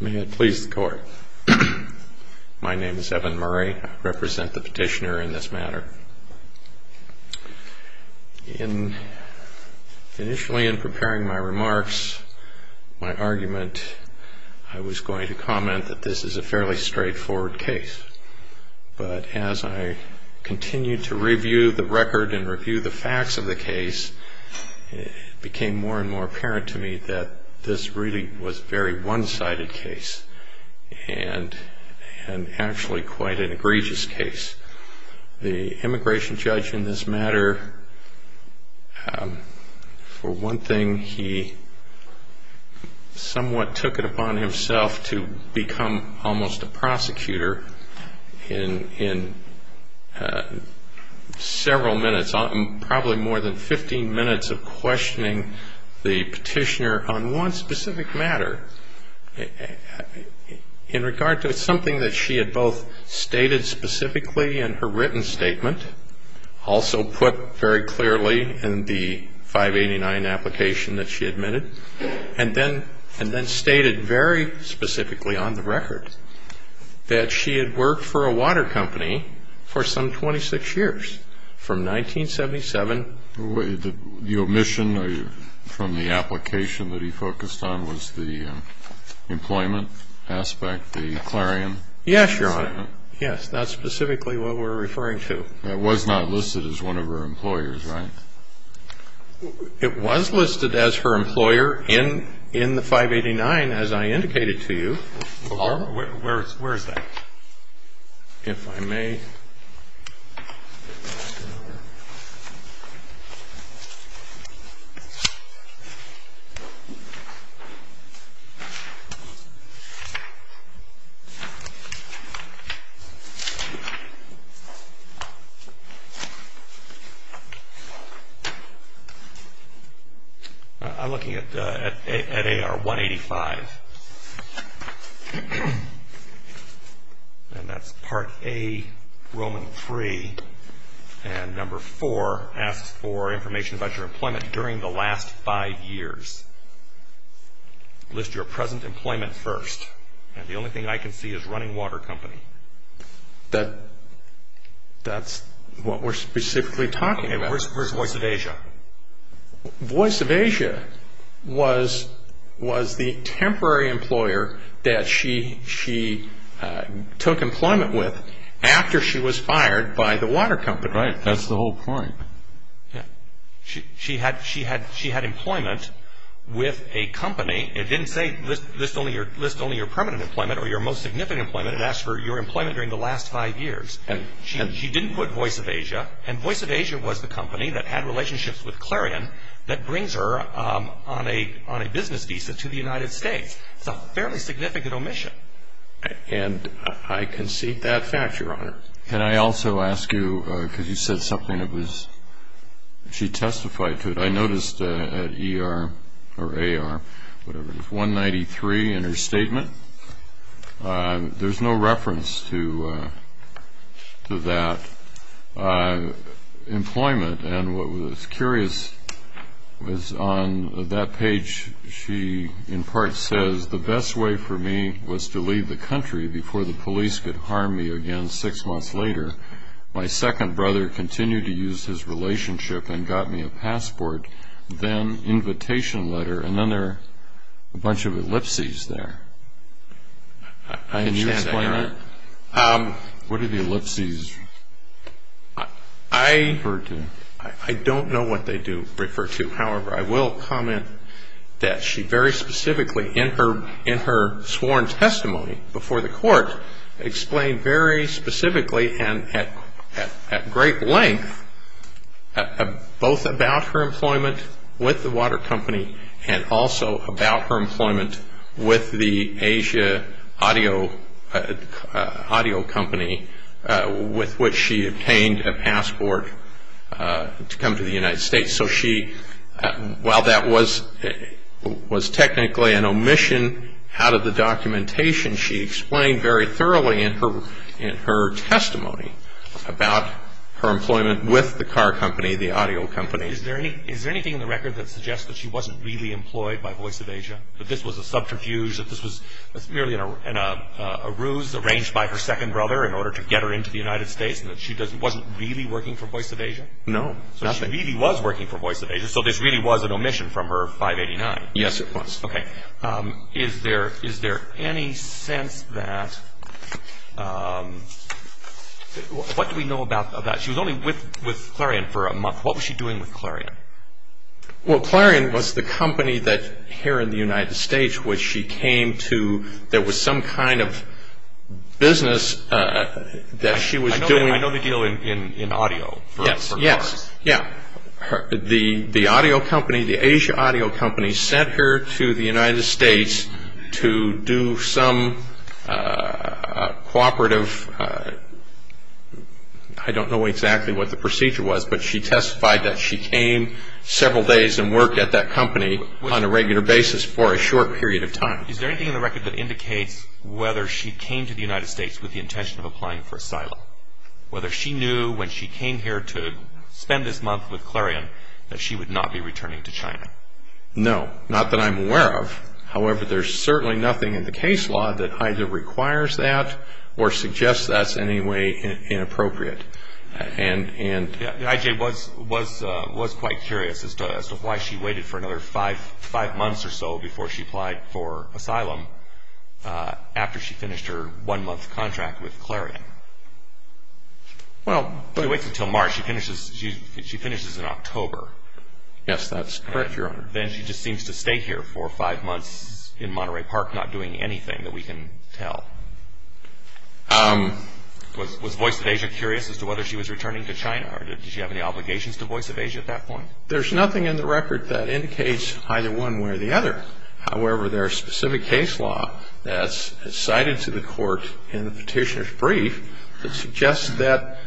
May it please the court. My name is Evan Murray. I represent the petitioner in this matter. Initially in preparing my remarks, my argument, I was going to comment that this is a fairly straightforward case. But as I continued to review the record and review the facts of the case, it became more and more apparent to me that this really was a very one-sided case and actually quite an egregious case. The immigration judge in this matter, for one thing, he somewhat took it upon himself to become almost a prosecutor in several minutes, probably more than 15 minutes of questioning the petitioner on one specific matter in regard to something that she had both stated specifically in her written statement, also put very clearly in the 589 application that she admitted, and then stated very specifically on the record that she had worked for a water company for some 26 years from 1977. The omission from the application that he focused on was the employment aspect, the clarion? Yes, Your Honor. Yes, that's specifically what we're referring to. It was not listed as one of her employers, right? It was listed as her employer in the 589, as I indicated to you. Where is that? If I may. I'm looking at AR 185, and that's part A, Roman 3, and number 4 asks for information about your employment during the last 5 years. List your present employment first, and the only thing I can see is running water company. That's what we're specifically talking about. Where's Voice of Asia? Voice of Asia was the temporary employer that she took employment with after she was fired by the water company. Right, that's the whole point. She had employment with a company. It didn't say list only your permanent employment or your most significant employment. It asked for your employment during the last 5 years. She didn't put Voice of Asia, and Voice of Asia was the company that had relationships with clarion that brings her on a business visa to the United States. It's a fairly significant omission. And I concede that fact, Your Honor. Can I also ask you, because you said something that was, she testified to it. I noticed at ER or AR, whatever it is, 193 in her statement, there's no reference to that employment. And what was curious was on that page, she in part says, the best way for me was to leave the country before the police could harm me again 6 months later. My second brother continued to use his relationship and got me a passport, then invitation letter, and then there are a bunch of ellipses there. What do the ellipses refer to? I don't know what they do refer to. However, I will comment that she very specifically in her sworn testimony before the court explained very specifically and at great length both about her employment with the water company and also about her employment with the Asia audio company with which she obtained a passport to come to the United States. So she, while that was technically an omission out of the documentation, she explained very thoroughly in her testimony about her employment with the car company, the audio company. Is there anything in the record that suggests that she wasn't really employed by Voice of Asia, that this was a subterfuge, that this was merely a ruse arranged by her second brother in order to get her into the United States and that she wasn't really working for Voice of Asia? No, nothing. So she really was working for Voice of Asia, so this really was an omission from her 589? Yes, it was. Okay. Is there any sense that, what do we know about that? She was only with Clarion for a month. What was she doing with Clarion? Well, Clarion was the company here in the United States which she came to. There was some kind of business that she was doing. I know the deal in audio for cars. Yes, yes. The audio company, the Asia audio company sent her to the United States to do some cooperative, I don't know exactly what the procedure was, but she testified that she came several days and worked at that company on a regular basis for a short period of time. Is there anything in the record that indicates whether she came to the United States with the intention of applying for asylum? Whether she knew when she came here to spend this month with Clarion that she would not be returning to China? No, not that I'm aware of. However, there's certainly nothing in the case law that either requires that or suggests that's in any way inappropriate. I.J. was quite curious as to why she waited for another five months or so before she applied for asylum after she finished her one-month contract with Clarion. She waits until March. She finishes in October. Yes, that's correct, Your Honor. Then she just seems to stay here for five months in Monterey Park not doing anything that we can tell. Was Voice of Asia curious as to whether she was returning to China or did she have any obligations to Voice of Asia at that point? There's nothing in the record that indicates either one way or the other. However, there's specific case law that's cited to the court in the petitioner's brief that suggests that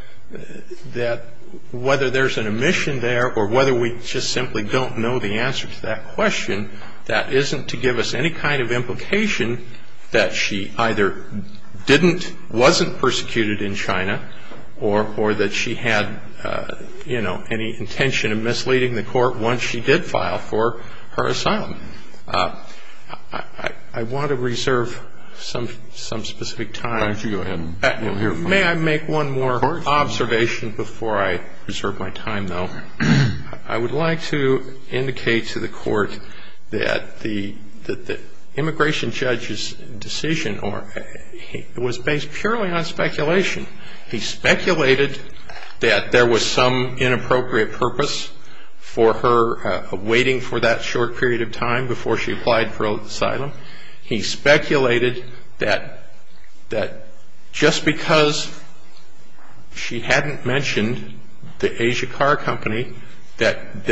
whether there's an omission there or whether we just simply don't know the answer to that question, that isn't to give us any kind of implication that she either didn't, wasn't persecuted in China or that she had, you know, any intention of misleading the court once she did file for her asylum. I want to reserve some specific time. Why don't you go ahead. May I make one more observation before I reserve my time, though? I would like to indicate to the court that the immigration judge's decision was based purely on speculation. He speculated that there was some inappropriate purpose for her waiting for that short period of time before she applied for asylum. He speculated that just because she hadn't mentioned the Asia Car Company, that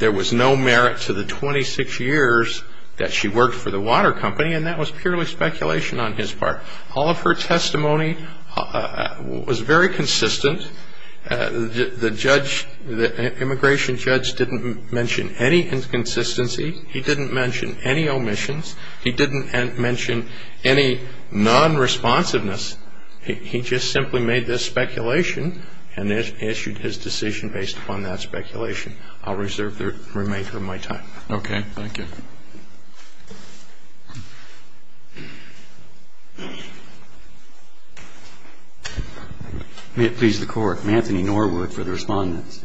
there was no merit to the 26 years that she worked for the water company, and that was purely speculation on his part. All of her testimony was very consistent. The judge, the immigration judge, didn't mention any inconsistency. He didn't mention any omissions. He didn't mention any non-responsiveness. He just simply made this speculation and issued his decision based upon that speculation. I'll reserve the remainder of my time. Okay, thank you. May it please the Court. Anthony Norwood for the respondents.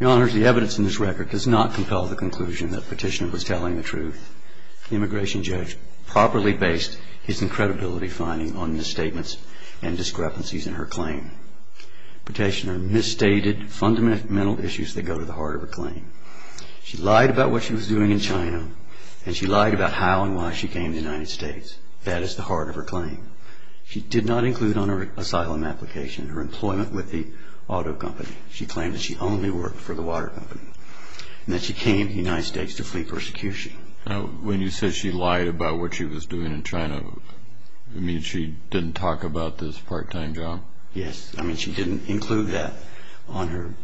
Your Honors, the evidence in this record does not compel the conclusion that Petitioner was telling the truth. The immigration judge properly based his incredibility finding on misstatements and discrepancies in her claim. Petitioner misstated fundamental issues that go to the heart of her claim. She lied about what she was doing in China, and she lied about how and why she came to the United States. That is the heart of her claim. She did not include on her asylum application her employment with the auto company. She claimed that she only worked for the water company, and that she came to the United States to flee persecution. When you said she lied about what she was doing in China, you mean she didn't talk about this part-time job? Yes. I mean, she didn't include that on her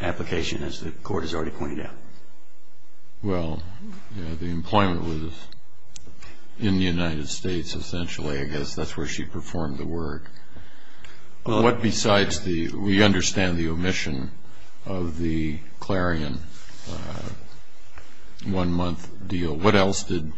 application, as the Court has already pointed out. Well, the employment was in the United States, essentially. I guess that's where she performed the work. What besides the, we understand the omission of the Clarion one-month deal. What else did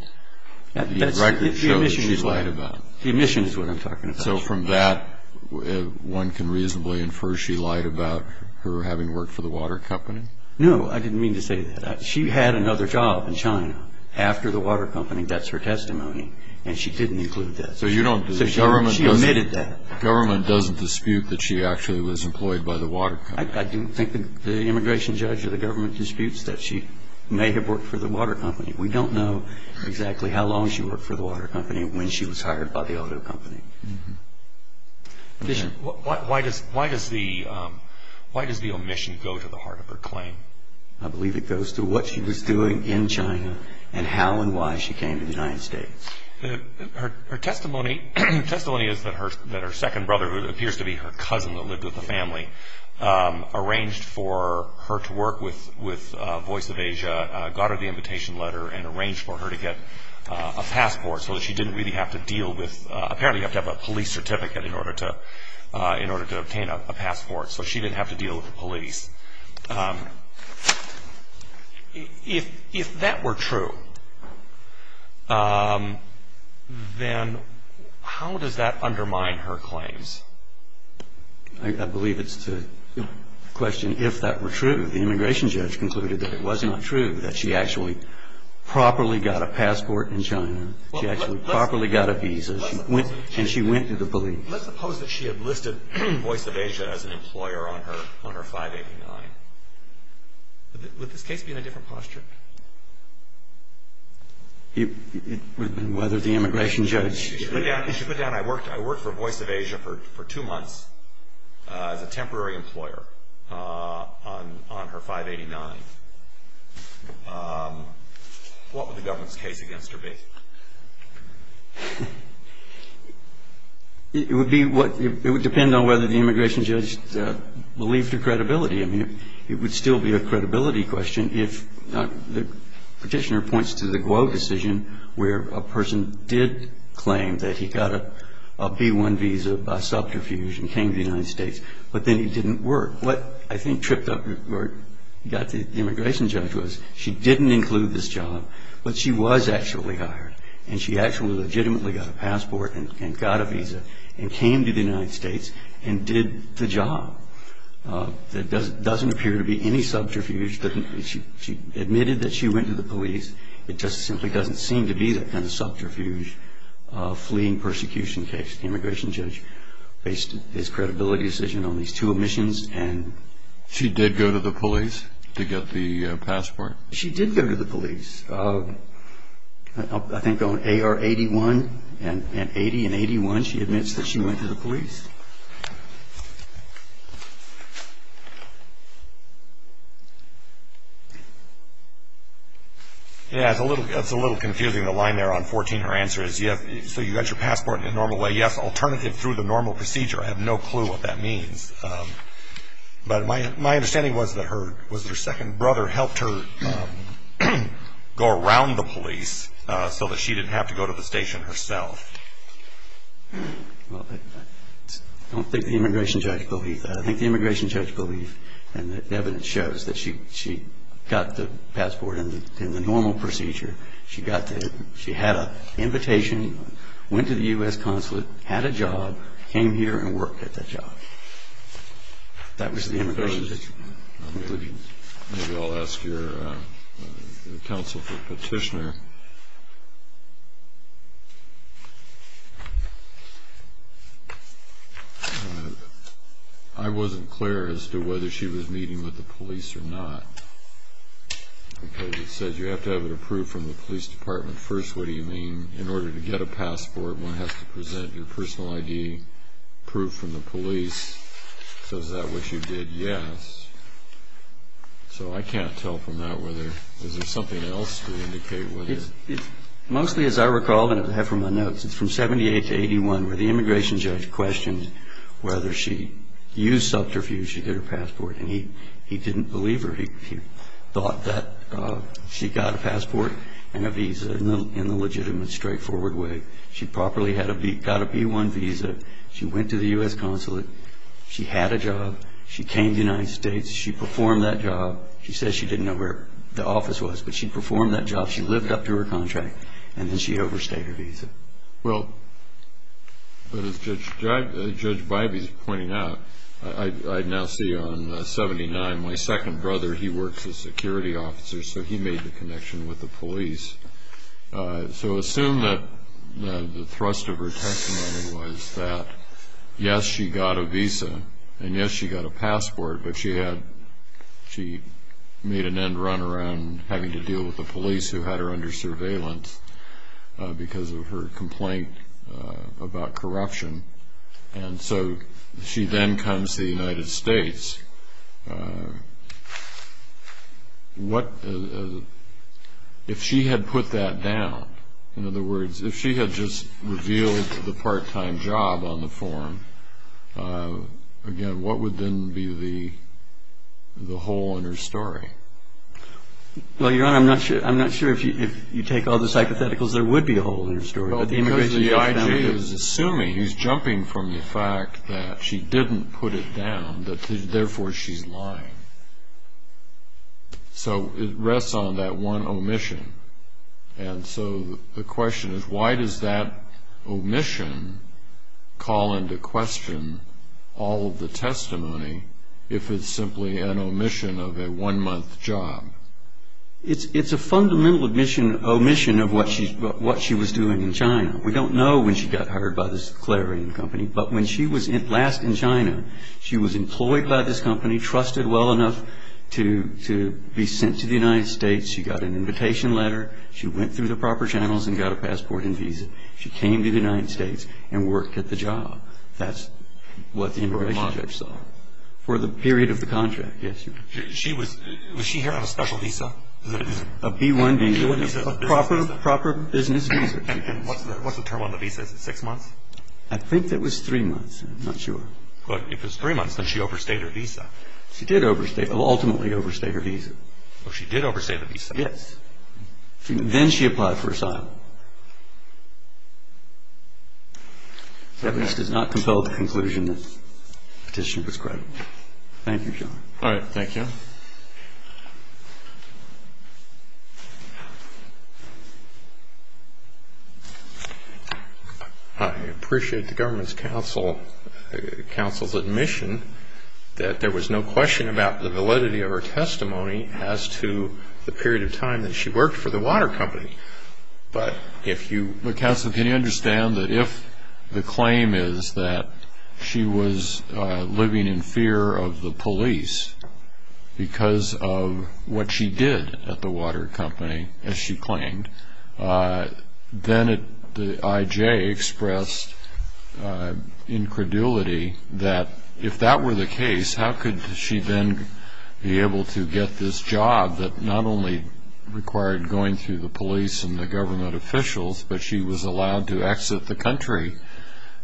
the record show that she lied about? The omission is what I'm talking about. And so from that, one can reasonably infer she lied about her having worked for the water company? No. I didn't mean to say that. She had another job in China after the water company. That's her testimony. And she didn't include that. So you don't. So she omitted that. Government doesn't dispute that she actually was employed by the water company. I don't think the immigration judge or the government disputes that she may have worked for the water company. We don't know exactly how long she worked for the water company and when she was hired by the auto company. Why does the omission go to the heart of her claim? I believe it goes to what she was doing in China and how and why she came to the United States. Her testimony is that her second brother, who appears to be her cousin that lived with the family, arranged for her to work with Voice of Asia, got her the invitation letter, and arranged for her to get a passport so that she didn't really have to deal with, apparently you have to have a police certificate in order to obtain a passport, so she didn't have to deal with the police. If that were true, then how does that undermine her claims? I believe it's to question if that were true. The immigration judge concluded that it was not true, that she actually properly got a passport in China. She actually properly got a visa. And she went to the police. Let's suppose that she had listed Voice of Asia as an employer on her 589. Would this case be in a different posture? It would be whether the immigration judge. She put down, I worked for Voice of Asia for two months as a temporary employer on her 589. What would the government's case against her be? It would depend on whether the immigration judge believed her credibility. It would still be a credibility question if the petitioner points to the Guo decision where a person did claim that he got a B-1 visa by subterfuge and came to the United States, but then he didn't work. What I think tripped up the immigration judge was she didn't include this job, but she was actually hired and she actually legitimately got a passport and got a visa and came to the United States and did the job. There doesn't appear to be any subterfuge. She admitted that she went to the police. It just simply doesn't seem to be that kind of subterfuge fleeing persecution case. The immigration judge based his credibility decision on these two omissions. She did go to the police to get the passport? She did go to the police. I think on AR-81 and 80 and 81, she admits that she went to the police. Yeah, it's a little confusing, the line there on 14. Her answer is, yes, so you got your passport in a normal way. Yes, alternative through the normal procedure. I have no clue what that means. But my understanding was that her second brother helped her go around the police so that she didn't have to go to the station herself. I don't think the immigration judge believed that. I think the immigration judge believed, and the evidence shows, that she got the passport in the normal procedure. She had an invitation, went to the U.S. consulate, had a job, came here and worked at the job. That was the immigration judge. Maybe I'll ask your counsel for petitioner. I wasn't clear as to whether she was meeting with the police or not. Because it says you have to have it approved from the police department first. What do you mean? In order to get a passport, one has to present your personal ID, proof from the police. So is that what you did? Yes. So I can't tell from that whether there's something else to indicate. Mostly, as I recall, and I have from the notes, it's from 78 to 81 where the immigration judge questioned whether she used subterfuge to get her passport. And he didn't believe her. He thought that she got a passport and a visa in the legitimate, straightforward way. She properly got a B-1 visa. She went to the U.S. consulate. She had a job. She came to the United States. She performed that job. She says she didn't know where the office was, but she performed that job. She lived up to her contract, and then she overstayed her visa. Well, but as Judge Bybee's pointing out, I now see on 79, my second brother, he works as a security officer, so he made the connection with the police. So assume that the thrust of her testimony was that, yes, she got a visa, and, yes, she got a passport, but she made an end run around having to deal with the police who had her under surveillance because of her complaint about corruption. And so she then comes to the United States. If she had put that down, in other words, if she had just revealed the part-time job on the forum, again, what would then be the hole in her story? Well, Your Honor, I'm not sure if you take all the psychotheticals, there would be a hole in her story. Well, because the IG is assuming, he's jumping from the fact that she didn't put it down, that therefore she's lying. So it rests on that one omission. And so the question is, why does that omission call into question all of the testimony if it's simply an omission of a one-month job? It's a fundamental omission of what she was doing in China. We don't know when she got hired by this declaring company, but when she was last in China, she was employed by this company, trusted well enough to be sent to the United States. She got an invitation letter. She went through the proper channels and got a passport and visa. She came to the United States and worked at the job. That's what the immigration judge saw for the period of the contract. Was she here on a special visa? A B-1 visa, a proper business visa. And what's the term on the visa? Is it six months? I think it was three months. I'm not sure. Well, if it was three months, then she overstayed her visa. She did ultimately overstay her visa. Oh, she did overstay the visa. Yes. Then she applied for asylum. The evidence does not compel the conclusion that the petition was credible. Thank you, John. All right. Thank you. I appreciate the government's counsel's admission that there was no question about the validity of her testimony as to the period of time that she worked for the water company. But if you... Counsel, can you understand that if the claim is that she was living in fear of the police because of what she did at the water company, as she claimed, then the IJ expressed incredulity that if that were the case, how could she then be able to get this job that not only required going through the police and the government officials, but she was allowed to exit the country.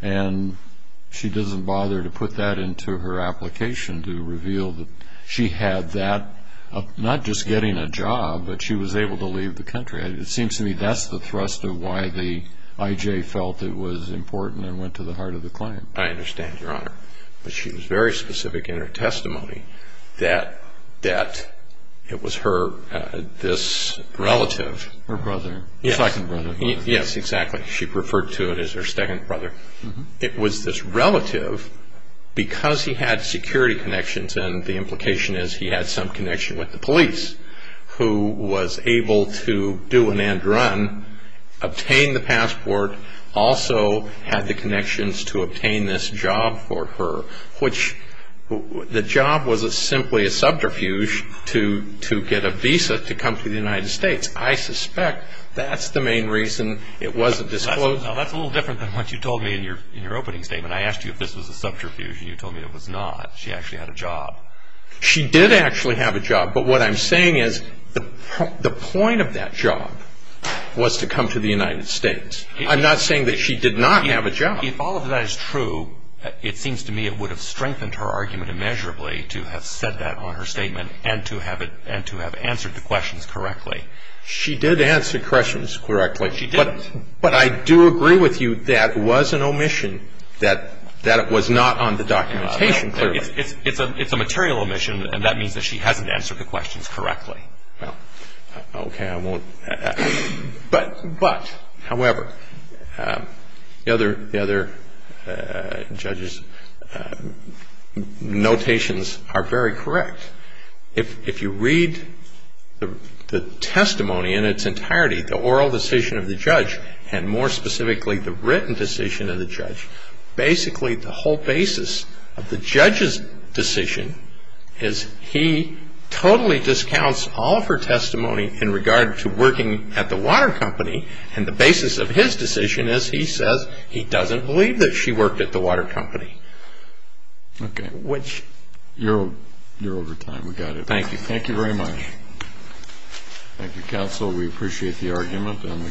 And she doesn't bother to put that into her application to reveal that she had that, not just getting a job, but she was able to leave the country. It seems to me that's the thrust of why the IJ felt it was important and went to the heart of the claim. I understand, Your Honor. But she was very specific in her testimony that it was her, this relative. Her brother. Second brother. Yes, exactly. She referred to it as her second brother. It was this relative, because he had security connections, and the implication is he had some connection with the police, who was able to do an end run, obtain the passport, also had the connections to obtain this job for her, which the job was simply a subterfuge to get a visa to come to the United States. I suspect that's the main reason it wasn't disclosed. No, that's a little different than what you told me in your opening statement. I asked you if this was a subterfuge, and you told me it was not. She actually had a job. She did actually have a job, but what I'm saying is the point of that job was to come to the United States. I'm not saying that she did not have a job. If all of that is true, it seems to me it would have strengthened her argument immeasurably to have said that on her statement and to have answered the questions correctly. She did answer questions correctly. She did. But I do agree with you that it was an omission, that it was not on the documentation clearly. It's a material omission, and that means that she hasn't answered the questions correctly. Okay, I won't. But, however, the other judges' notations are very correct. If you read the testimony in its entirety, the oral decision of the judge, and more specifically the written decision of the judge, basically the whole basis of the judge's decision is he totally discounts all of her testimony in regard to working at the water company, and the basis of his decision is he says he doesn't believe that she worked at the water company. Okay. Which... You're over time. We got it. Thank you. Thank you very much. Thank you, counsel. We appreciate the argument, and the case is submitted.